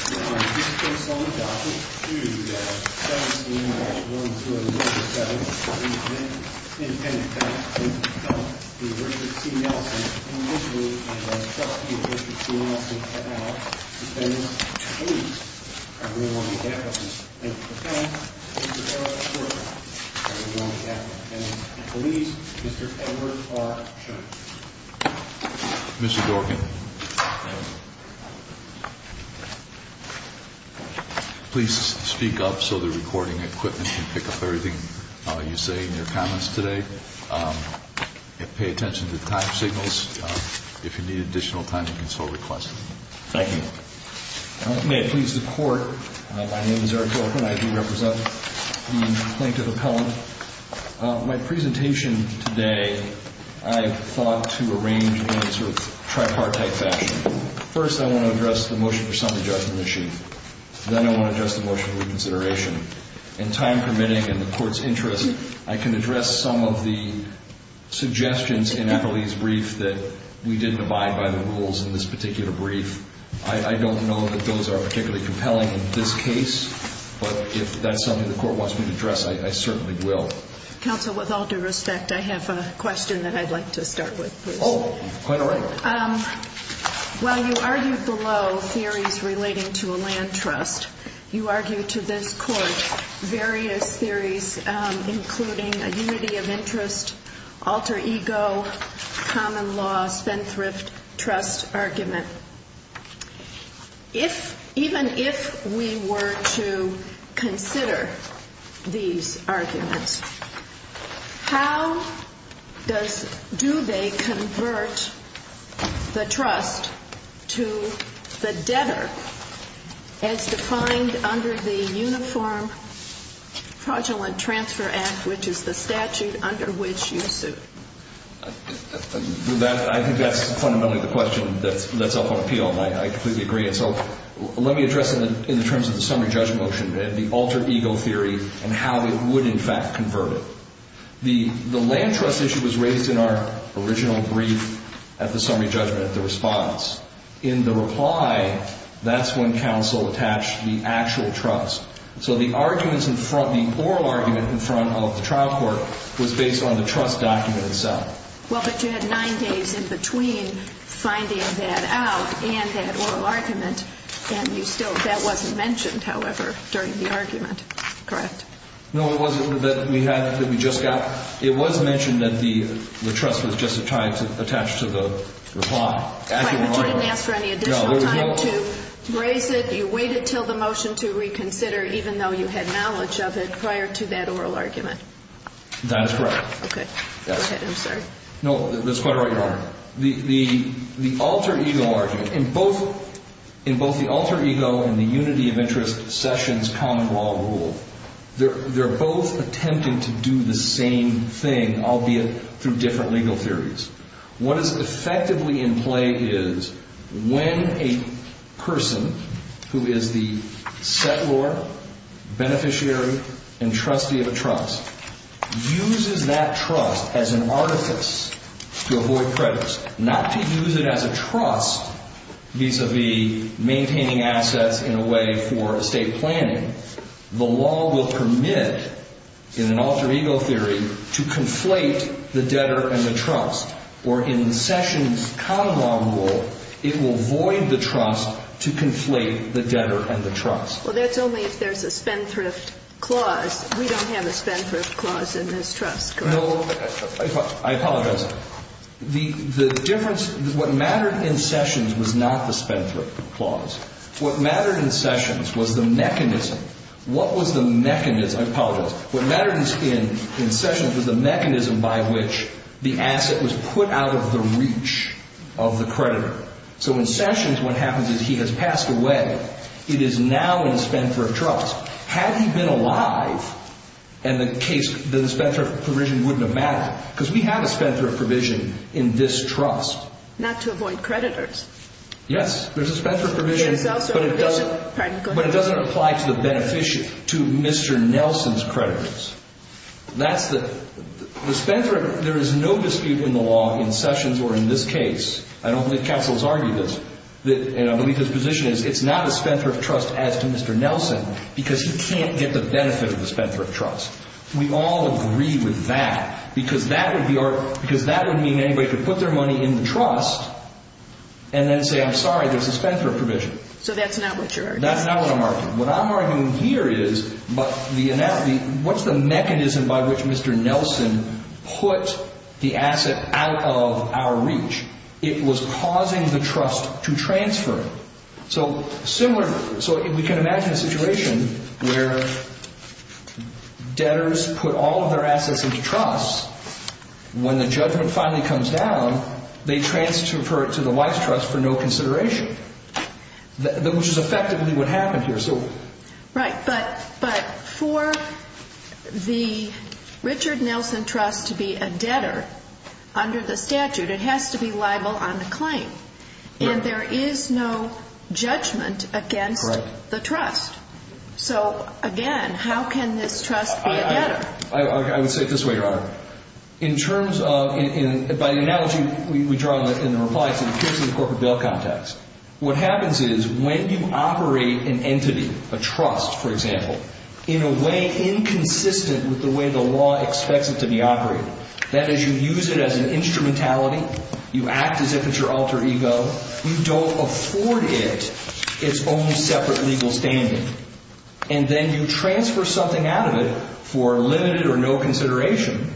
Oh, oh, Mhm. Okay, If you wanna get to Okay. Police Mr Edwards R. Mr doctor. Yeah, Mhm. Please speak up so the recording equipment can pick up everything you say in your comments today. Pay attention to the time signals. If you need additional time, you can still request. Thank you. May it please the court. My name is Eric Thorpe and I do represent the plaintiff appellant. My presentation today, I thought to arrange in a sort of tripartite fashion. First, I want to address the motion for summary judgment issue. Then I want to just emotional reconsideration and time permitting and the court's interest. I can address some of the suggestions in Natalie's brief that we didn't abide by the rules in this particular brief. I don't know that those are particularly compelling in this case, but if that's something the court wants me to address, I certainly will counsel. With all due respect, I have a question that I'd like to start with. Oh, quite all right. Um, well, you argued below theories relating to a land trust. You argue to this court various theories, including a unity of interest, alter ego, common loss, spendthrift trust argument. If even if we were to consider these arguments, how does do they convert the trust to the debtor as defined under the Uniform Fraudulent Transfer Act, which is the statute under which you suit? I think that's fundamentally the question that's up on appeal. I completely agree. And so let me address in the terms of the summary judgment motion, the alter ego theory and how it would, in fact, convert it. The land trust issue was raised in our original brief at the summary judgment at the response. In the reply, that's when counsel attached the actual trust. So the arguments in front, the oral argument in front of the trial court was based on the trust document itself. Well, but you had nine days in between finding that out and that oral argument. And you still that wasn't mentioned, however, during the argument. Correct? No, it wasn't that we had that we just got. It was mentioned that the trust was just attached to the reply. But you didn't ask for any additional time to raise it. You waited till the motion to reconsider, even though you had knowledge of it prior to that oral argument. That's correct. Okay, go ahead. I'm sorry. No, that's quite right. Your Honor. The alter ego argument in both in both the alter ego and the unity of interest sessions common law rule, they're both attempting to do the same thing, albeit through different legal theories. What is effectively in play is when a person who is the settlor, beneficiary and trustee of the trust uses that trust as an artifice to avoid credits, not to use it as a trust vis a vis maintaining assets in a way for estate planning. The law will permit in an alter ego theory to conflate the debtor and the trust or in sessions common law rule, it will void the trust to conflate the debtor and the trust. Well, that's only if there's a spendthrift clause. We don't have a spendthrift clause in this trust. No, I apologize. The difference is what mattered in sessions was not the spendthrift clause. What mattered in sessions was the mechanism. What was the mechanism? I apologize. What mattered in sessions was the mechanism by which the asset was put out of the reach of the creditor. So in sessions, what happens is he has passed away. It is now in spendthrift trust. Had he been alive and the case, the spendthrift provision wouldn't have mattered because we have a spendthrift provision in this trust. Not to avoid creditors. Yes, there's a spendthrift provision, but it doesn't apply to the beneficiary, to Mr. Nelson's creditors. That's the spendthrift. There is no dispute in the law in sessions or in this case. I don't think counsels argue this. And I believe his position is it's not a spendthrift trust as to Mr. Nelson because he can't get the benefit of the spendthrift trust. We all agree with that because that would mean anybody could put their money in the trust and then say, I'm sorry, there's a spendthrift provision. So that's not what you're arguing. That's not what I'm arguing. What I'm arguing here is what's the mechanism by which Mr. Nelson put the asset out of our reach? It was causing the trust to transfer. So similar, so we can imagine a situation where debtors put all of their assets into trusts. When the judgment finally comes down, they transfer it to the wife's trust for no consideration, which is effectively what happened here. Right. But for the Richard Nelson trust to be a debtor under the statute, it has to be liable on the claim. And there is no judgment against the trust. So again, how can this trust be a debtor? I would say it this way, Your Honor. In terms of, by the analogy we draw in the reply to the case in the corporate bill context, what happens is when you operate an entity, a trust, for example, in a way inconsistent with the way the law expects it to be as an instrumentality, you act as if it's your alter ego. You don't afford it its own separate legal standing. And then you transfer something out of it for limited or no consideration.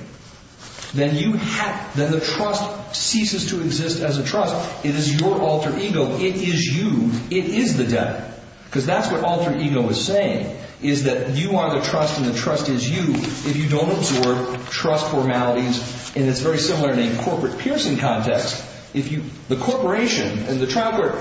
Then you have, then the trust ceases to exist as a trust. It is your alter ego. It is you. It is the debtor. Because that's what alter ego is saying, is that you are the trust and the trust is you. If you don't absorb trust formalities, and it's very similar in a corporate piercing context, if you, the corporation and the trial court,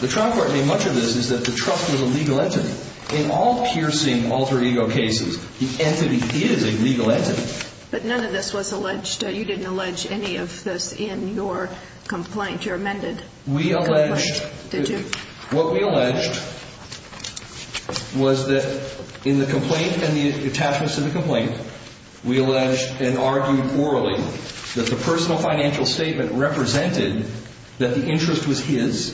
the trial court made much of this is that the trust was a legal entity. In all piercing alter ego cases, the entity is a legal entity. But none of this was alleged. You didn't allege any of this in your complaint, your amended complaint, did you? We alleged, what we alleged was that in the complaint and the attachments to the contract, we alleged and argued orally that the personal financial statement represented that the interest was his,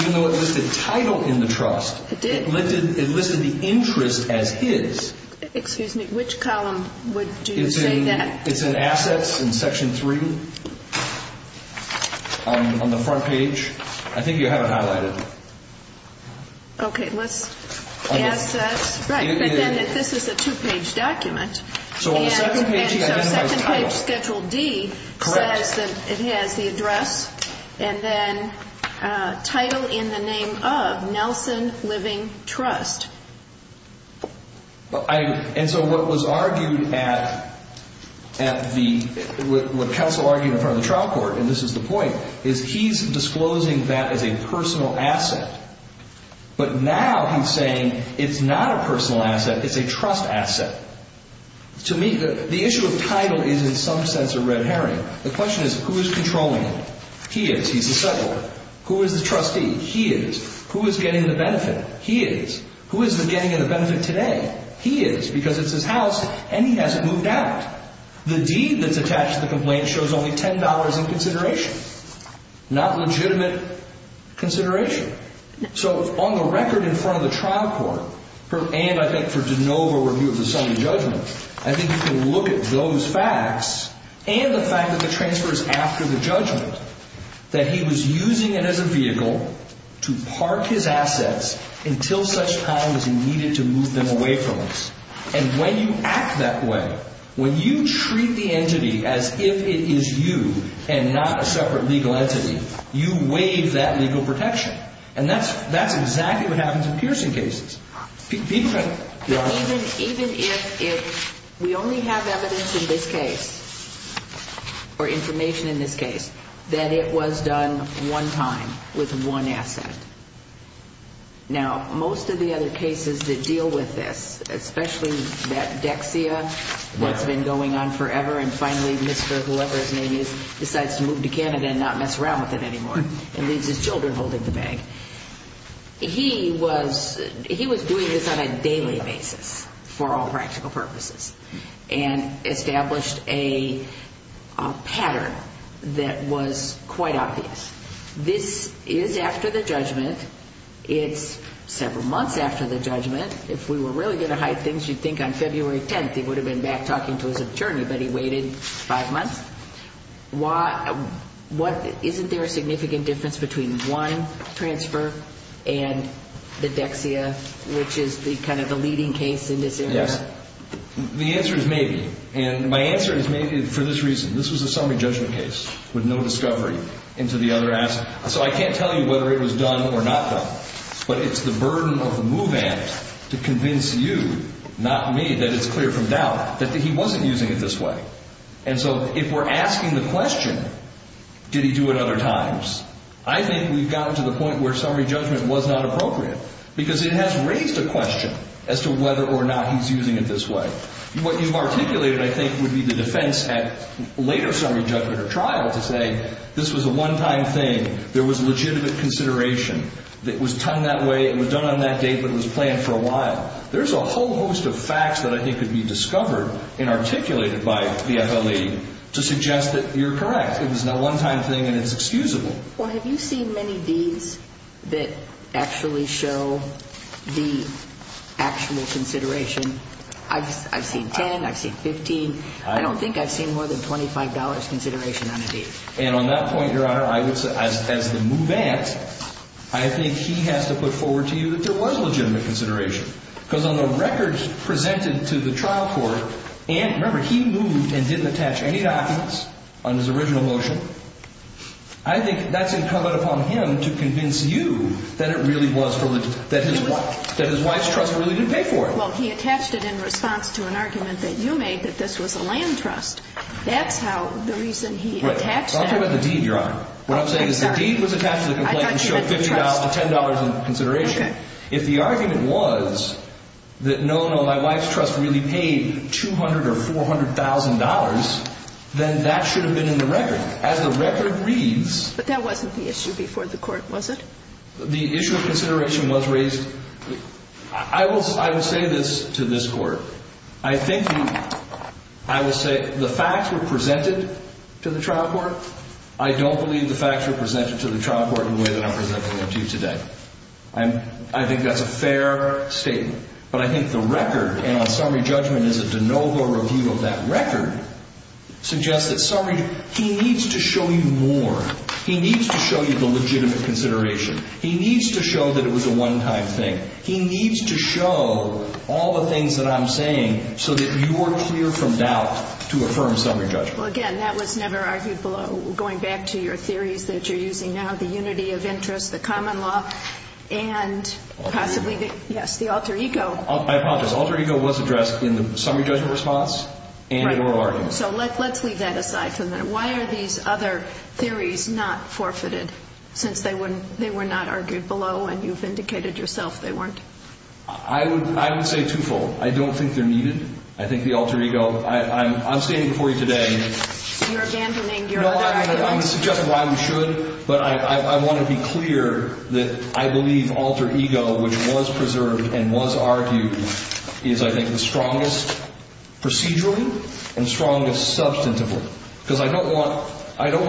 even though it listed title in the trust. It did. It listed the interest as his. Excuse me, which column would you say that? It's in assets in section three on the front page. I think you have it highlighted. Okay, let's add that. Right, but then this is a two-page document. So on the second page, he identifies title. And so second page, schedule D says that it has the address and then title in the name of Nelson Living Trust. And so what was argued at the, what counsel argued in front of the trial court, and this is the point, is he's disclosing that as a personal asset. But now he's saying it's not a personal asset. It's a trust asset. To me, the issue of title is in some sense a red herring. The question is who is controlling him? He is, he's the settler. Who is the trustee? He is. Who is getting the benefit? He is. Who is the getting of the benefit today? He is, because it's his house and he hasn't moved out. The deed that's attached to the complaint shows only $10 in consideration. Not legitimate consideration. So on the record in front of the trial court, and I think for DeNovo review of the Sonny judgment, I think you can look at those facts and the fact that the transfer is after the judgment, that he was using it as a vehicle to park his assets until such time as he needed to move them away from us. And when you act that way, when you treat the entity as if it is you and not a separate legal entity, you waive that legal protection. And that's, that's exactly what happens in piercing cases. People kind of, you know. Even, even if, if we only have evidence in this case or information in this case, that it was done one time with one asset. Now, most of the other cases that deal with this, especially that Dexia, what's been going on forever. And finally, Mr. whoever his name is, decides to move to Canada and not mess around with it anymore and leaves his children holding the bag. He was, he was doing this on a daily basis for all practical purposes and established a pattern that was quite obvious. This is after the judgment. It's several months after the judgment. If we were really going to hide things, you'd think on February 10th, he would have been back talking to his attorney, but he waited five months. Why, what, isn't there a significant difference between wine transfer and the Dexia, which is the kind of the leading case in this area? The answer is maybe. And my answer is maybe for this reason, this was a summary judgment case with no discovery into the other asset. So I can't tell you whether it was done or not done, but it's the burden of the move-in to convince you, not me, that it's clear from doubt that he wasn't using it this way. And so if we're asking the question, did he do it other times? I think we've gotten to the point where summary judgment was not appropriate because it has raised a question as to whether or not he's using it this way. What you've articulated, I think, would be the defense at later summary judgment or this was a one-time thing. There was a legitimate consideration that was done that way. It was done on that date, but it was planned for a while. There's a whole host of facts that I think could be discovered and articulated by the FLE to suggest that you're correct. It was not a one-time thing and it's excusable. Well, have you seen many deeds that actually show the actual consideration? I've seen 10, I've seen 15. I don't think I've seen more than $25 consideration on a deed. And on that point, Your Honor, I would say as the move act, I think he has to put forward to you that there was legitimate consideration because on the records presented to the trial court, and remember, he moved and didn't attach any documents on his original motion. I think that's incumbent upon him to convince you that it really was, that his wife's trust really didn't pay for it. Well, he attached it in response to an argument that you made that this was a land trust. That's how, the reason he attached that. Don't talk about the deed, Your Honor. What I'm saying is the deed was attached to the complaint and showed $50 to $10 in consideration. If the argument was that, no, no, my wife's trust really paid $200,000 or $400,000, then that should have been in the record. As the record reads. But that wasn't the issue before the court, was it? The issue of consideration was raised, I will say this to this court, I think I will say the facts were presented to the trial court. I don't believe the facts were presented to the trial court in the way that I'm presenting them to you today. I think that's a fair statement, but I think the record, and on summary judgment is a de novo review of that record, suggests that summary, he needs to show you more. He needs to show you the legitimate consideration. He needs to show that it was a one-time thing. He needs to show all the things that I'm saying so that you are clear from doubt to affirm summary judgment. Well, again, that was never argued below. Going back to your theories that you're using now, the unity of interest, the common law, and possibly, yes, the alter ego. I apologize. Alter ego was addressed in the summary judgment response and in oral argument. So let's leave that aside for a minute. Why are these other theories not forfeited since they were not argued below and you've indicated yourself they weren't? I would say twofold. I don't think they're needed. I think the alter ego, I'm standing before you today, I would suggest why we should, but I want to be clear that I believe alter ego, which was preserved and was argued, is I think the strongest procedurally and strongest substantively. Because I don't want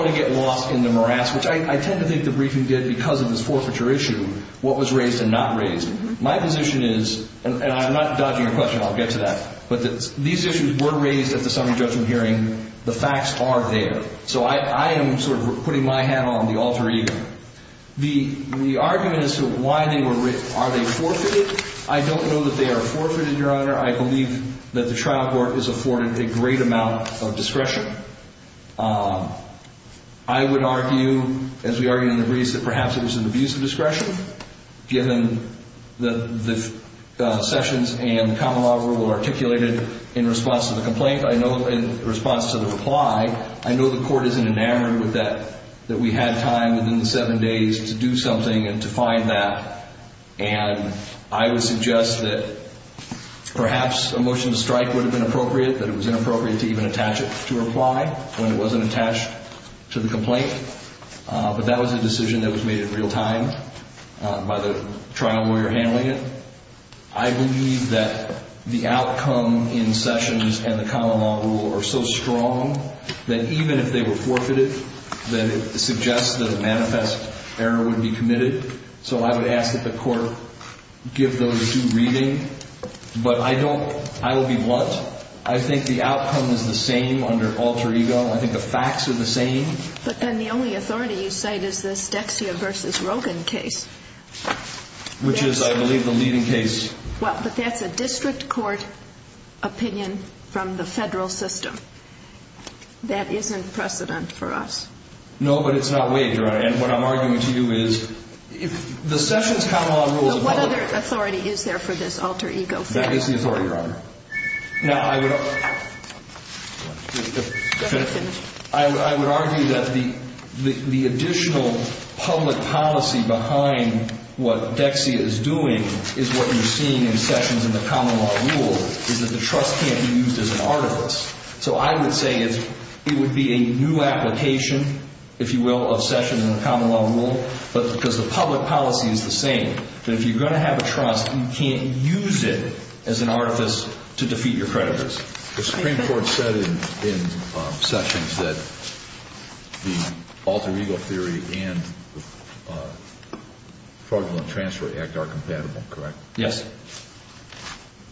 to get lost in the morass, which I tend to think the briefing did because of this forfeiture issue, what was raised and not raised. My position is, and I'm not dodging your question, I'll get to that. But these issues were raised at the summary judgment hearing. The facts are there. So I am sort of putting my hat on the alter ego. The argument as to why they were, are they forfeited? I don't know that they are forfeited, Your Honor. I believe that the trial court is afforded a great amount of discretion. I would argue, as we argue in the briefs, that perhaps it was an abuse of in response to the complaint, I know in response to the reply, I know the court isn't enamored with that, that we had time within the seven days to do something and to find that, and I would suggest that perhaps a motion to strike would have been appropriate, but it was inappropriate to even attach it to a reply when it wasn't attached to the complaint, but that was a decision that was made in real time by the trial lawyer handling it. I believe that the outcome in Sessions and the common law rule are so strong that even if they were forfeited, that it suggests that a manifest error would be committed, so I would ask that the court give those due reading, but I don't, I will be blunt. I think the outcome is the same under alter ego. I think the facts are the same. But then the only authority you cite is this Dexia versus Rogan case. Which is, I believe, the leading case. Well, but that's a district court opinion from the federal system. That isn't precedent for us. No, but it's not waived, Your Honor, and what I'm arguing to you is if the Sessions common law rule is valid. But what other authority is there for this alter ego? That is the authority, Your Honor. Now, I would argue that the additional public policy behind the what Dexia is doing is what you're seeing in Sessions and the common law rule is that the trust can't be used as an artifice. So I would say it's, it would be a new application, if you will, of Sessions and the common law rule, but because the public policy is the same, that if you're going to have a trust, you can't use it as an artifice to defeat your creditors. The Supreme Court said in Sessions that the alter ego theory and fraudulent transfer act are compatible, correct? Yes.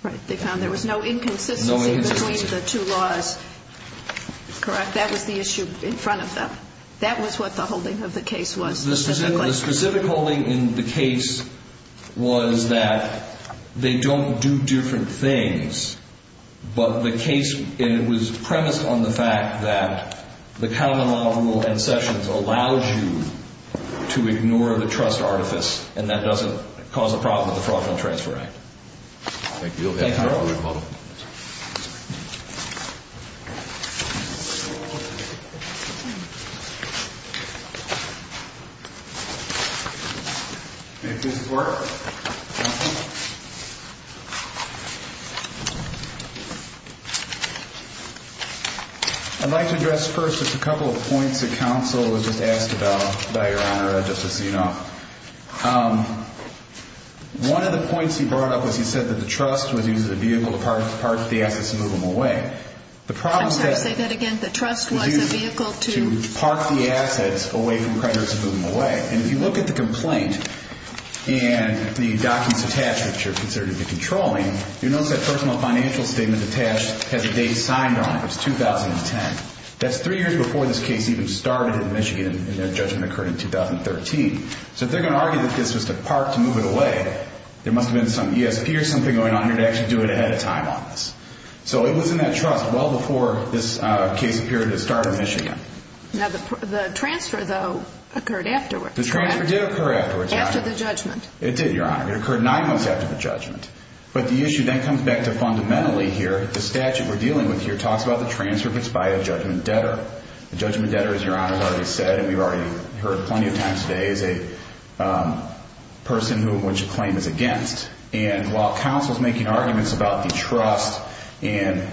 Right. They found there was no inconsistency between the two laws, correct? That was the issue in front of them. That was what the holding of the case was. The specific holding in the case was that they don't do different things, but the case, it was premised on the fact that the common law rule and Sessions allows you to ignore the trust artifice, and that doesn't cause a problem with the fraudulent transfer act. Thank you. Thank you, Your Honor. Thank you, Your Honor. Thank you, Mr. Porter. I'd like to address first just a couple of points that counsel was just asked about by Your Honor, Justice Zinoff. One of the points he brought up was he said that the trust was used as a vehicle to park the assets and move them away. I'm sorry to say that again. The trust was a vehicle to park the assets away from creditors and move them away, and if you look at the complaint and the documents attached, which are considered to be controlling, you'll notice that personal financial statement attached has a date signed on it. It's 2010. That's three years before this case even started in Michigan, and that judgment occurred in 2013, so if they're going to argue that this was to park, to move it away, there must have been some ESP or something going on here to actually do it ahead of time on this, so it was in that trust well before this case appeared to start in Michigan. Now, the transfer, though, occurred afterwards, correct? The transfer did occur afterwards, Your Honor. After the judgment. It did, Your Honor. It occurred nine months after the judgment, but the issue then comes back to fundamentally here, the statute we're dealing with here talks about the transfer of it's by a judgment debtor. The judgment debtor, as Your Honor has already said, and we've already heard plenty of times today, is a person who, which a claim is against, and while counsel's making arguments about the trust and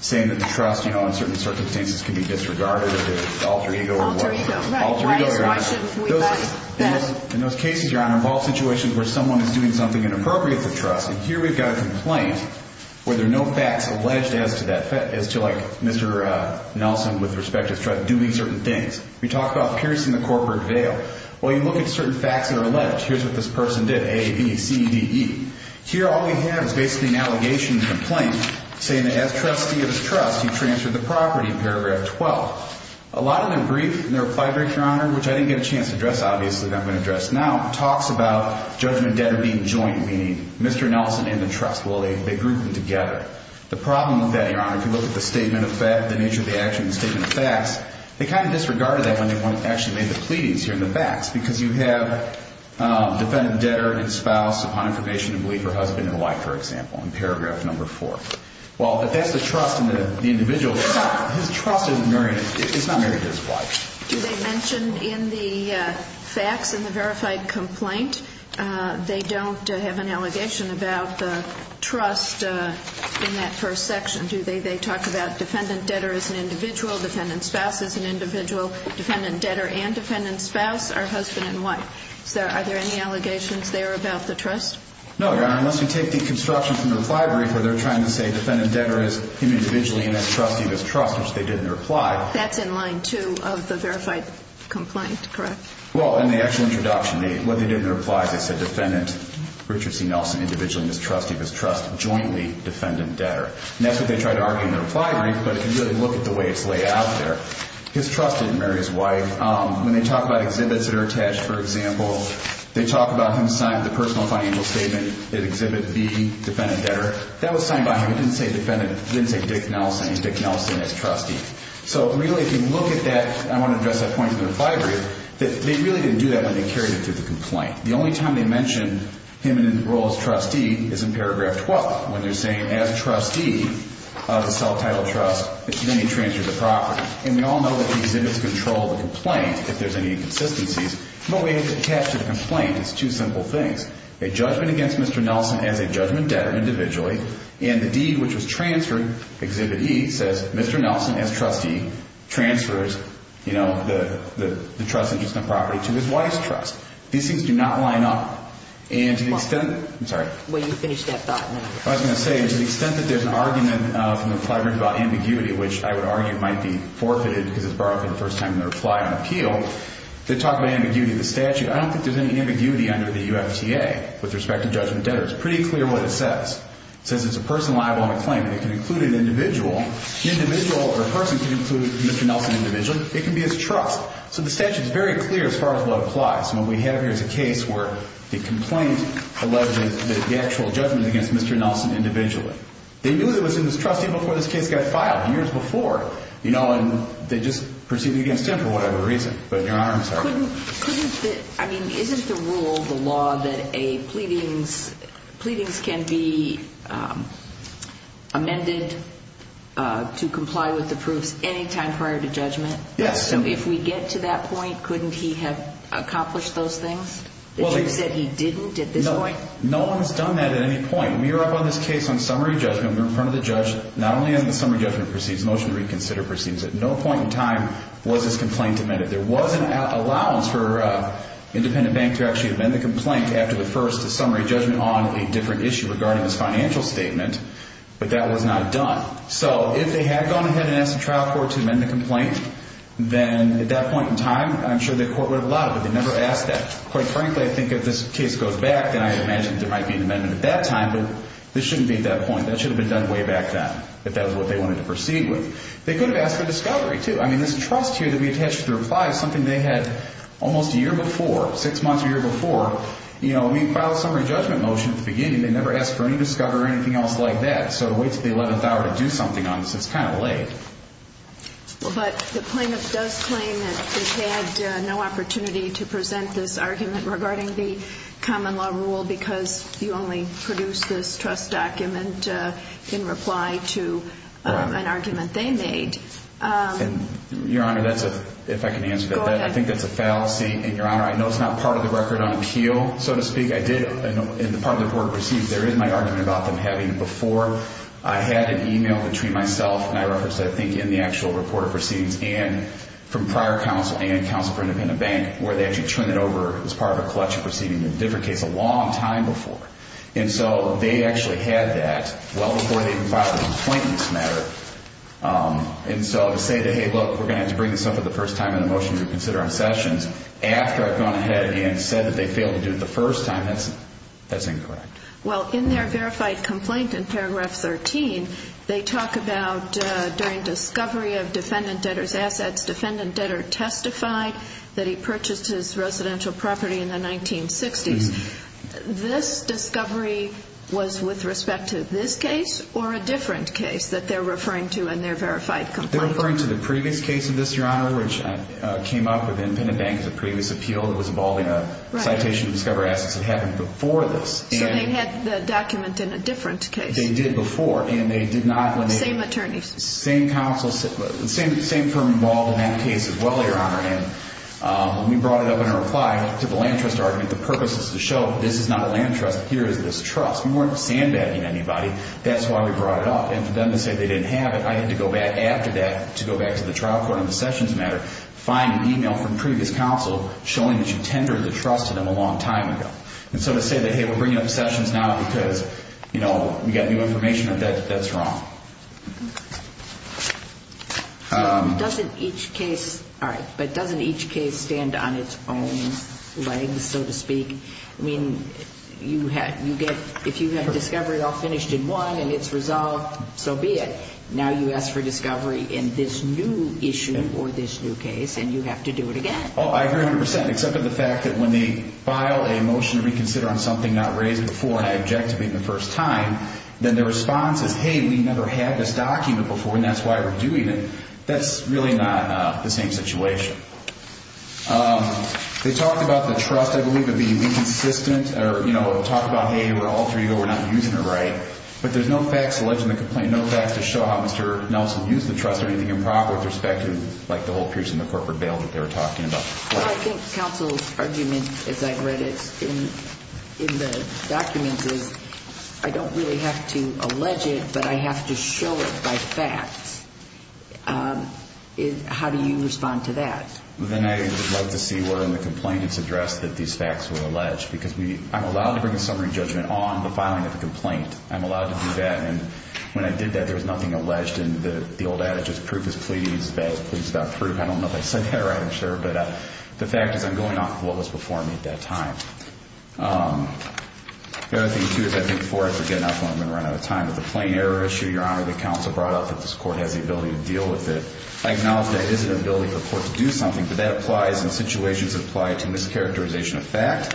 saying that the trust, you know, in certain circumstances can be disregarded, or the alter ego or whatever. Alter ego, right. Why is it we like that? In those cases, Your Honor, involve situations where someone is doing something inappropriate to the trust, and here we've got a complaint where there are no facts alleged as to that, as to like Mr. Nelson, with respect to his trust, doing certain things. We talked about piercing the corporate veil. Well, you look at certain facts that are alleged. Here's what this person did. A, B, C, D, E. Here, all we have is basically an allegation complaint saying that as trustee of his trust, he transferred the property in paragraph 12. A lot of them briefed in their reply, Your Honor, which I didn't get a chance to address, obviously, that I'm going to address now, talks about judgment debtor being joint, meaning Mr. Nelson and the trust, well, they, they grouped them together. The problem with that, Your Honor, if you look at the statement of the nature of the action, the statement of facts, they kind of disregarded that when they actually made the pleadings here in the facts, because you have defendant debtor and spouse upon information of belief or husband and wife, for example, in paragraph number four. Well, if that's the trust in the individual, his trust isn't married, it's not married to his wife. Do they mention in the facts, in the verified complaint, they don't have an allegation about the trust in that first section? Do they, they talk about defendant debtor as an individual, defendant spouse as an individual, defendant debtor and defendant spouse are husband and wife. So are there any allegations there about the trust? No, Your Honor, unless you take the construction from the reply brief where they're trying to say defendant debtor is him individually and as trustee of his trust, which they did in their reply. That's in line two of the verified complaint, correct? Well, in the actual introduction, what they did in their reply, they said defendant Richard C. Nelson, individually and as trustee of his trust, jointly defendant debtor. And that's what they tried to argue in their reply brief, but if you really look at the way it's laid out there, his trust didn't marry his wife. When they talk about exhibits that are attached, for example, they talk about him signing the personal financial statement, that exhibit B, defendant debtor, that was signed by him. He didn't say defendant, he didn't say Dick Nelson, he said Dick Nelson as trustee. So really, if you look at that, I want to address that point in the reply brief, that they really didn't do that when they carried it through the complaint. The only time they mentioned him in the role as trustee is in paragraph 12, when they're saying as trustee of the self-titled trust, then he transferred the property. And we all know that the exhibits control the complaint, if there's any inconsistencies, but when it's attached to the complaint, it's two simple things. A judgment against Mr. Nelson as a judgment debtor individually, and the deed which was transferred, exhibit E says, Mr. Nelson as trustee transfers, you know, the trust interest and property to his wife's trust. These things do not line up. And to the extent, I'm sorry. When you finish that thought, I was going to say, to the extent that there's an argument from the reply brief about ambiguity, which I would argue might be forfeited because it's borrowed for the first time in the reply on appeal, they talk about ambiguity of the statute. I don't think there's any ambiguity under the UFTA with respect to judgment debtors. Pretty clear what it says. It says it's a person liable on a claim that can include an individual, individual or a person can include Mr. Nelson individually. It can be as trust. So the statute is very clear as far as what applies. And what we have here is a case where the complaint alleges that the actual judgment against Mr. Nelson individually, they knew that it was in his trustee before this case got filed years before, you know, and they just proceed against him for whatever reason, but your honor, I'm sorry. I mean, isn't the rule, the law that a pleadings, pleadings can be amended to comply with the proofs any time prior to judgment? Yes. So if we get to that point, couldn't he have accomplished those things that you said he didn't at this point? No one has done that at any point. We are up on this case on summary judgment. We're in front of the judge, not only on the summary judgment proceeds, motion to reconsider proceeds at no point in time was this complaint amended. There wasn't an allowance for a independent bank to actually amend the complaint after the first summary judgment on a different issue regarding this financial statement, but that was not done. So if they had gone ahead and asked the trial court to amend the complaint, then at that point in time, I'm sure the court would have allowed it, but they never asked that quite frankly. I think if this case goes back, then I imagine there might be an amendment at that time, but this shouldn't be at that point. That should have been done way back then if that was what they wanted to proceed with, they could have asked for discovery too, I mean, this trust here that we attached to the reply is something they had almost a year before six months or a year before, you know, we filed a summary judgment motion at that time, but they never asked for any discovery or anything else like that. So to wait till the 11th hour to do something on this, it's kind of late. Well, but the plaintiff does claim that they had no opportunity to present this argument regarding the common law rule because you only produce this trust document in reply to an argument they made. And your honor, that's a, if I can answer that, I think that's a fallacy. And your honor, I know it's not part of the record on appeal, so to speak. I did, in the part of the report received, there is my argument about them having, before I had an email between myself and I referenced, I think, in the actual report of proceedings and from prior counsel and counsel for independent bank, where they actually turned it over as part of a collection proceeding in a different case a long time before. And so they actually had that well before they even filed the complaint in this matter. And so to say that, Hey, look, we're going to have to bring this up for the first time in the motion we consider on Sessions, after I've gone ahead and said that they failed to do it the first time, that's, that's incorrect. Well, in their verified complaint in paragraph 13, they talk about during discovery of defendant debtors assets, defendant debtor testified that he purchased his residential property in the 1960s. This discovery was with respect to this case or a different case that they're referring to in their verified complaint? They're referring to the previous case of this, your honor, which came up with citation to discover assets that happened before this. So they had the document in a different case. They did before. And they did not, same attorneys, same counsel, same, same firm involved in that case as well, your honor. And, um, we brought it up in a reply to the land trust argument. The purpose is to show this is not a land trust. Here is this trust. We weren't sandbagging anybody. That's why we brought it up. And for them to say they didn't have it, I had to go back after that to go back to the trial court on the Sessions matter, find an email from previous counsel showing that you tendered the trust to them a long time ago. And so to say that, Hey, we're bringing up sessions now because, you know, we got new information that that's wrong. Doesn't each case, all right, but doesn't each case stand on its own legs, so to speak, I mean, you had, you get, if you had discovered all finished in one and it's resolved, so be it now you ask for discovery in this new issue or this new case and you have to do it again. Oh, I agree a hundred percent. Except for the fact that when they file a motion to reconsider on something not raised before, and I object to being the first time, then the response is, Hey, we never had this document before and that's why we're doing it. That's really not the same situation. Um, they talked about the trust. I believe it'd be inconsistent or, you know, talk about, Hey, we're alter ego, we're not using it right. But there's no facts alleged in the complaint. No facts to show how Mr. Nelson used the trust or anything improper with respect to like the whole in the corporate bail that they were talking about. I think counsel's argument, as I've read it in the documents is I don't really have to allege it, but I have to show it by facts. Um, how do you respond to that? Well, then I like to see where in the complaint it's addressed that these facts were alleged because we, I'm allowed to bring a summary judgment on the filing of the complaint. I'm allowed to do that. And when I did that, there was nothing alleged in the old adage, just proof is pleading is bad. Please stop proof. I don't know if I said that right. I'm sure. But the fact is I'm going off of what was before me at that time. Um, the other thing too, is I think for us again, I'm going to run out of time with the plain error issue, your honor, the council brought up that this court has the ability to deal with it. I acknowledge that it is an ability for the court to do something, but that applies in situations that apply to mischaracterization of fact,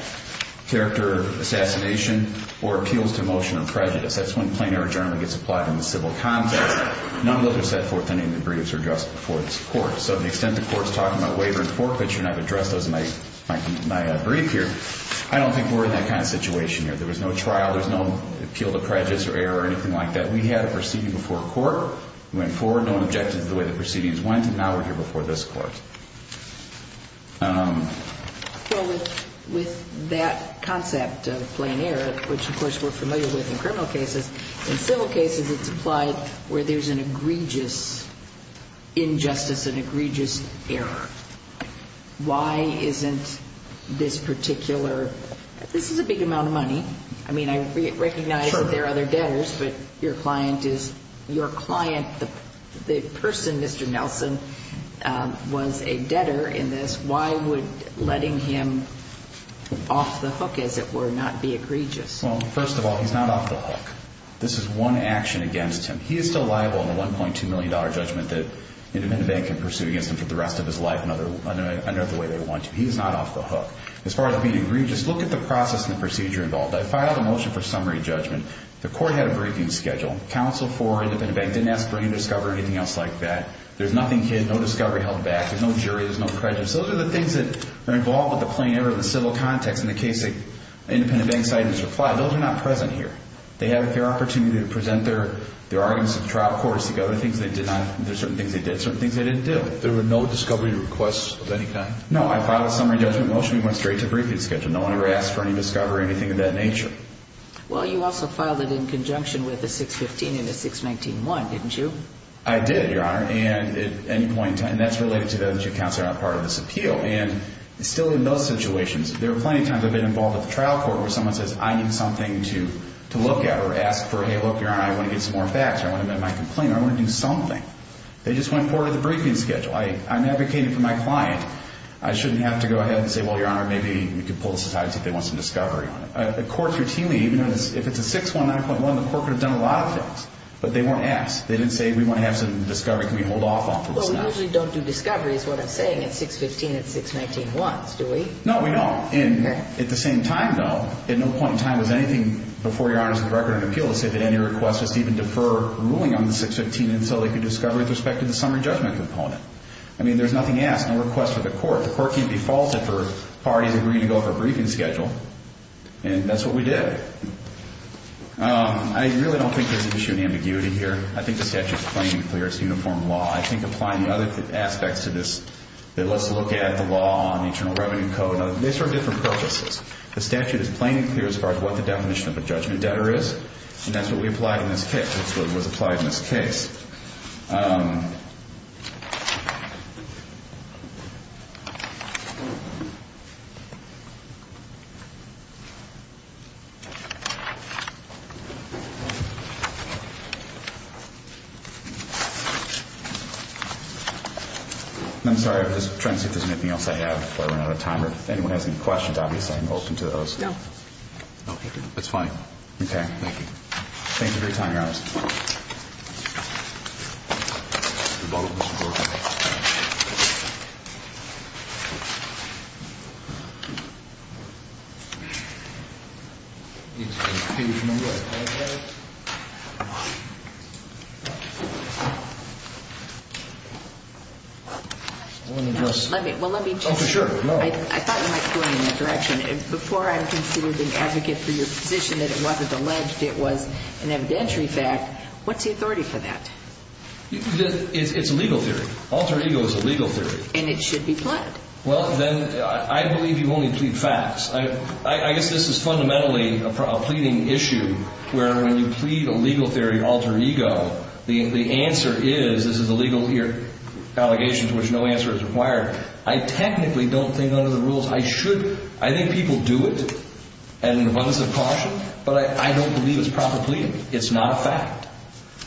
character assassination, or appeals to motion of prejudice. That's when plain error generally gets applied in the civil context. None of those are set forth in any of the briefs or just before this court. So the extent of course, talking about waiver and forfeiture, and I've addressed those in my, my brief here. I don't think we're in that kind of situation here. There was no trial. There's no appeal to prejudice or error or anything like that. We had a proceeding before court, we went forward, no one objected to the way the proceedings went, and now we're here before this court. Um, with that concept of plain error, which of course we're familiar with in criminal cases, in civil cases, it's applied where there's an egregious injustice, an egregious error. Why isn't this particular, this is a big amount of money. I mean, I recognize that there are other debtors, but your client is your client, the person, Mr. Nelson, um, was a debtor in this. Why would letting him off the hook, as it were, not be egregious? Well, first of all, he's not off the hook. This is one action against him. He is still liable in the $1.2 million judgment that an independent bank can sue against him for the rest of his life in another way they want to. He's not off the hook. As far as being egregious, look at the process and the procedure involved. I filed a motion for summary judgment. The court had a briefing schedule. Counsel for an independent bank didn't ask for any discovery or anything else like that. There's nothing hidden, no discovery held back. There's no jurors, no prejudice. Those are the things that are involved with the plain error of the civil context in the case that an independent bank cited as replied. Those are not present here. They have a fair opportunity to present their arguments at the trial court, to see other things they did not, there's certain things they did, certain things they didn't do. There were no discovery requests of any kind? No, I filed a summary judgment motion. We went straight to a briefing schedule. No one ever asked for any discovery or anything of that nature. Well, you also filed it in conjunction with a 615 and a 619-1, didn't you? I did, Your Honor. And at any point in time, and that's related to the two counts that are not part of this appeal. And still in those situations, there were plenty of times I've been involved with the trial court where someone says, I need something to look at or ask for, Hey, look, Your Honor, I want to get some more facts. I want to make my complaint. I want to do something. They just went forward with the briefing schedule. I, I'm advocating for my client. I shouldn't have to go ahead and say, well, Your Honor, maybe we could pull this aside and see if they want some discovery on it. Uh, the courts routinely, even if it's a 619.1, the court could have done a lot of things, but they weren't asked. They didn't say, we want to have some discovery. Can we hold off on this now? Well, we usually don't do discovery is what I'm saying. It's 615 and 619-1s, do we? No, we don't. And at the same time though, at no point in time was anything before Your Honor's record in an appeal to say that any request was to even defer ruling on the 615 and so they could discover with respect to the summary judgment component. I mean, there's nothing asked, no request for the court. The court can't be faulted for parties agreeing to go for a briefing schedule. And that's what we did. Um, I really don't think there's an issue of ambiguity here. I think the statute is plain and clear. It's a uniform law. I think applying the other aspects to this, that let's look at the law on the Internal Revenue Code and other, they serve different purposes. The statute is plain and clear as far as what the definition of a judgment debtor is, and that's what we applied in this case, what was applied in this case. Um, I'm sorry. I'm just trying to see if there's anything else I have before we run out of time. Or if anyone has any questions, obviously I'm open to those. No. That's fine. Okay. Thank you for your time, Your Honor. The bottom of the floor. Let me, well, let me just, I thought you might point in that direction. If before I'm considered an advocate for your position that it wasn't alleged it was an evidentiary fact, what's the authority for that? It's a legal theory. Alter ego is a legal theory. And it should be plied. Well, then I believe you only plead facts. I guess this is fundamentally a pleading issue where when you plead a legal theory of alter ego, the answer is, this is a legal allegation to which no answer is required. I technically don't think under the rules I should, I think people do it and abundance of caution, but I don't believe it's proper pleading. It's not a fact.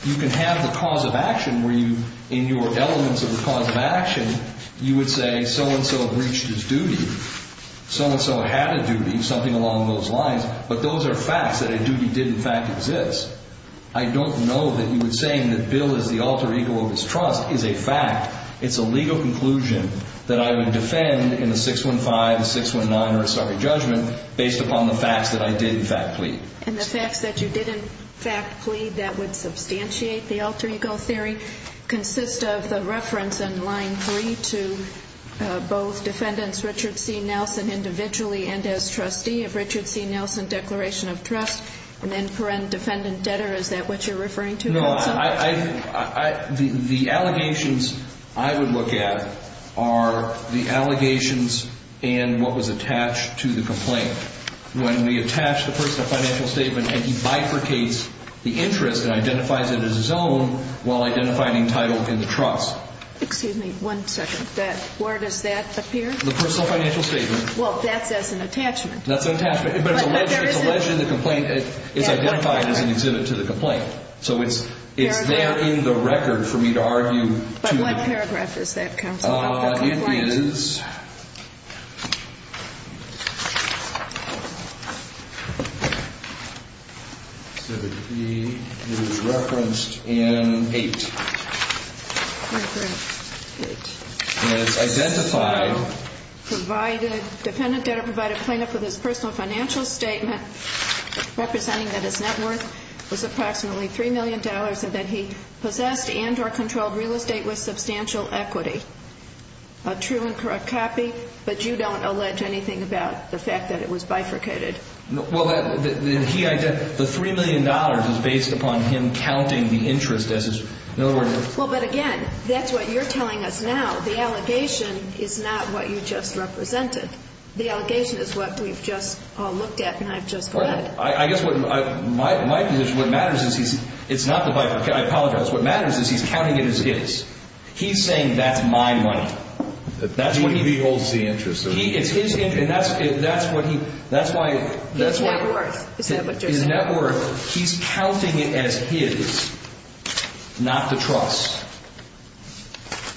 You can have the cause of action where you, in your elements of the cause of action, you would say so-and-so have reached his duty, so-and-so had a duty, something along those lines, but those are facts that a duty did in fact exist. I don't know that you would say that Bill is the alter ego of his trust is a fact. It's a legal conclusion that I would defend in a 615, 619, or a sovereign judgment based upon the facts that I did in fact plead. And the facts that you did in fact plead that would substantiate the alter ego theory consists of the reference in line three to both defendants, Richard C. Nelson, individually, and as trustee of Richard C. Nelson declaration of trust and then parent defendant debtor. Is that what you're referring to? No, I, I, I, I, the, the allegations I would look at are the allegations and what was attached to the complaint. When we attach the personal financial statement and he bifurcates the interest and identifies it as his own while identifying entitled in the trust. Excuse me, one second. That, where does that appear? The personal financial statement. Well, that's as an attachment. That's an attachment, but it's alleged, it's alleged in the complaint, it's identified as an exhibit to the complaint. So it's, it's there in the record for me to argue to the point. But what paragraph is that counsel? It is referenced in eight. And it's identified provided defendant debtor provided plaintiff with his personal financial statement representing that his net worth was approximately $3 million and that he possessed and or controlled real estate with substantial equity, a true and correct copy. But you don't allege anything about the fact that it was bifurcated. No. Well, he identified the $3 million is based upon him counting the interest as his, in other words. Well, but again, that's what you're telling us now. The allegation is not what you just represented. The allegation is what we've just looked at. And I've just read, I guess what my, my position, what matters is he's, it's not the bifurcated, I apologize. What matters is he's counting it as is. He's saying that's my money. That's what he holds the interest of. He is his interest. And that's, that's what he, that's why, that's why he's counting it as his, not the trust,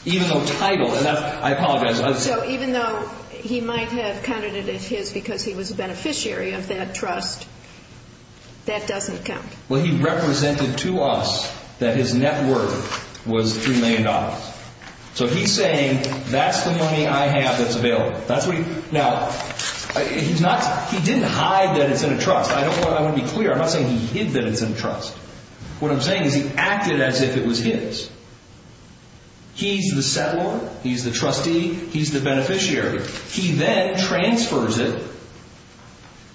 even though title. And that's, I apologize. So even though he might have counted it as his, because he was a beneficiary of that trust, that doesn't count. Well, he represented to us that his net worth was $3 million. So he's saying that's the money I have that's available. That's what he, now he's not, he didn't hide that it's in a trust. I don't want, I want to be clear. I'm not saying he hid that it's in a trust. What I'm saying is he acted as if it was his. He's the settler. He's the trustee. He's the beneficiary. He then transfers it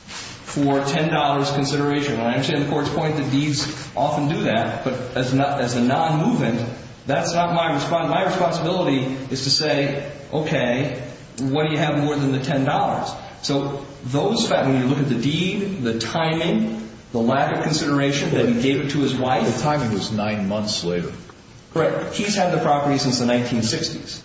for $10 consideration. And I understand the court's point that deeds often do that, but as not, as a non-movement, that's not my response. My responsibility is to say, okay, what do you have more than the $10? So those, when you look at the deed, the timing, the lack of consideration that he gave it to his wife. The timing was nine months later. Correct. He's had the property since the 1960s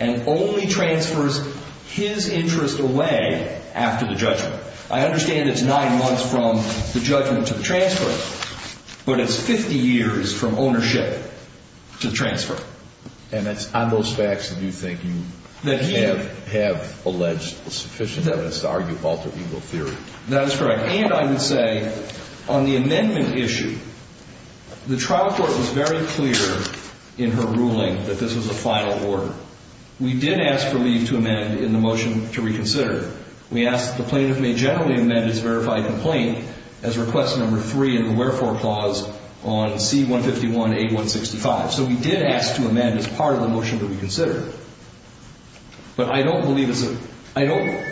and only transfers his interest away after the judgment. I understand it's nine months from the judgment to the transfer, but it's 50 years from ownership to transfer. And it's on those facts that you think you have, have alleged sufficient evidence to argue Walter Eagle theory. That is correct. And I would say on the amendment issue, the trial court was very clear in her ruling that this was a final order. We did ask for leave to amend in the motion to reconsider. We asked the plaintiff may generally amend his verified complaint as request number three in the wherefore clause on C-151-8165. So we did ask to amend as part of the motion that we considered, but I don't believe it's a, I don't,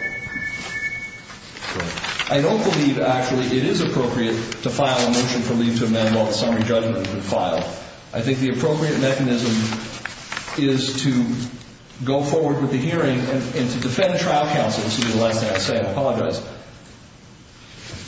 I don't believe actually it is appropriate to file a motion for leave to amend while the summary judgment is in file. I think the appropriate mechanism is to go forward with the hearing and to defend trial counsel. This will be the last thing I say, I apologize.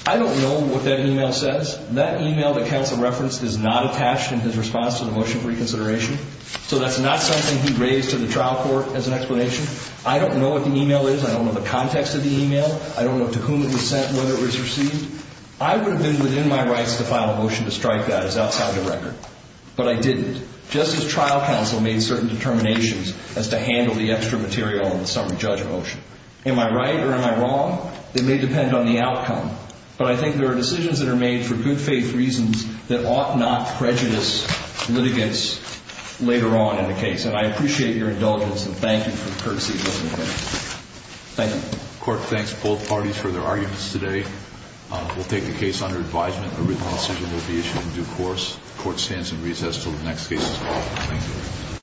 I don't know what that email says. That email that counsel referenced is not attached in his response to the motion for reconsideration. So that's not something he raised to the trial court as an explanation. I don't know what the email is. I don't know the context of the email. I don't know to whom it was sent, whether it was received. I would have been within my rights to file a motion to strike that as outside of the record, but I didn't. Justice trial counsel made certain determinations as to handle the extra material in the summary judge motion. Am I right or am I wrong? It may depend on the outcome, but I think there are decisions that are made for good faith reasons that ought not prejudice litigants later on in the case. And I appreciate your indulgence and thank you for the courtesy. Thank you. Court thanks both parties for their arguments today. We'll take the case under advisement. A written decision will be issued in due course. Court stands in recess until the next case is called.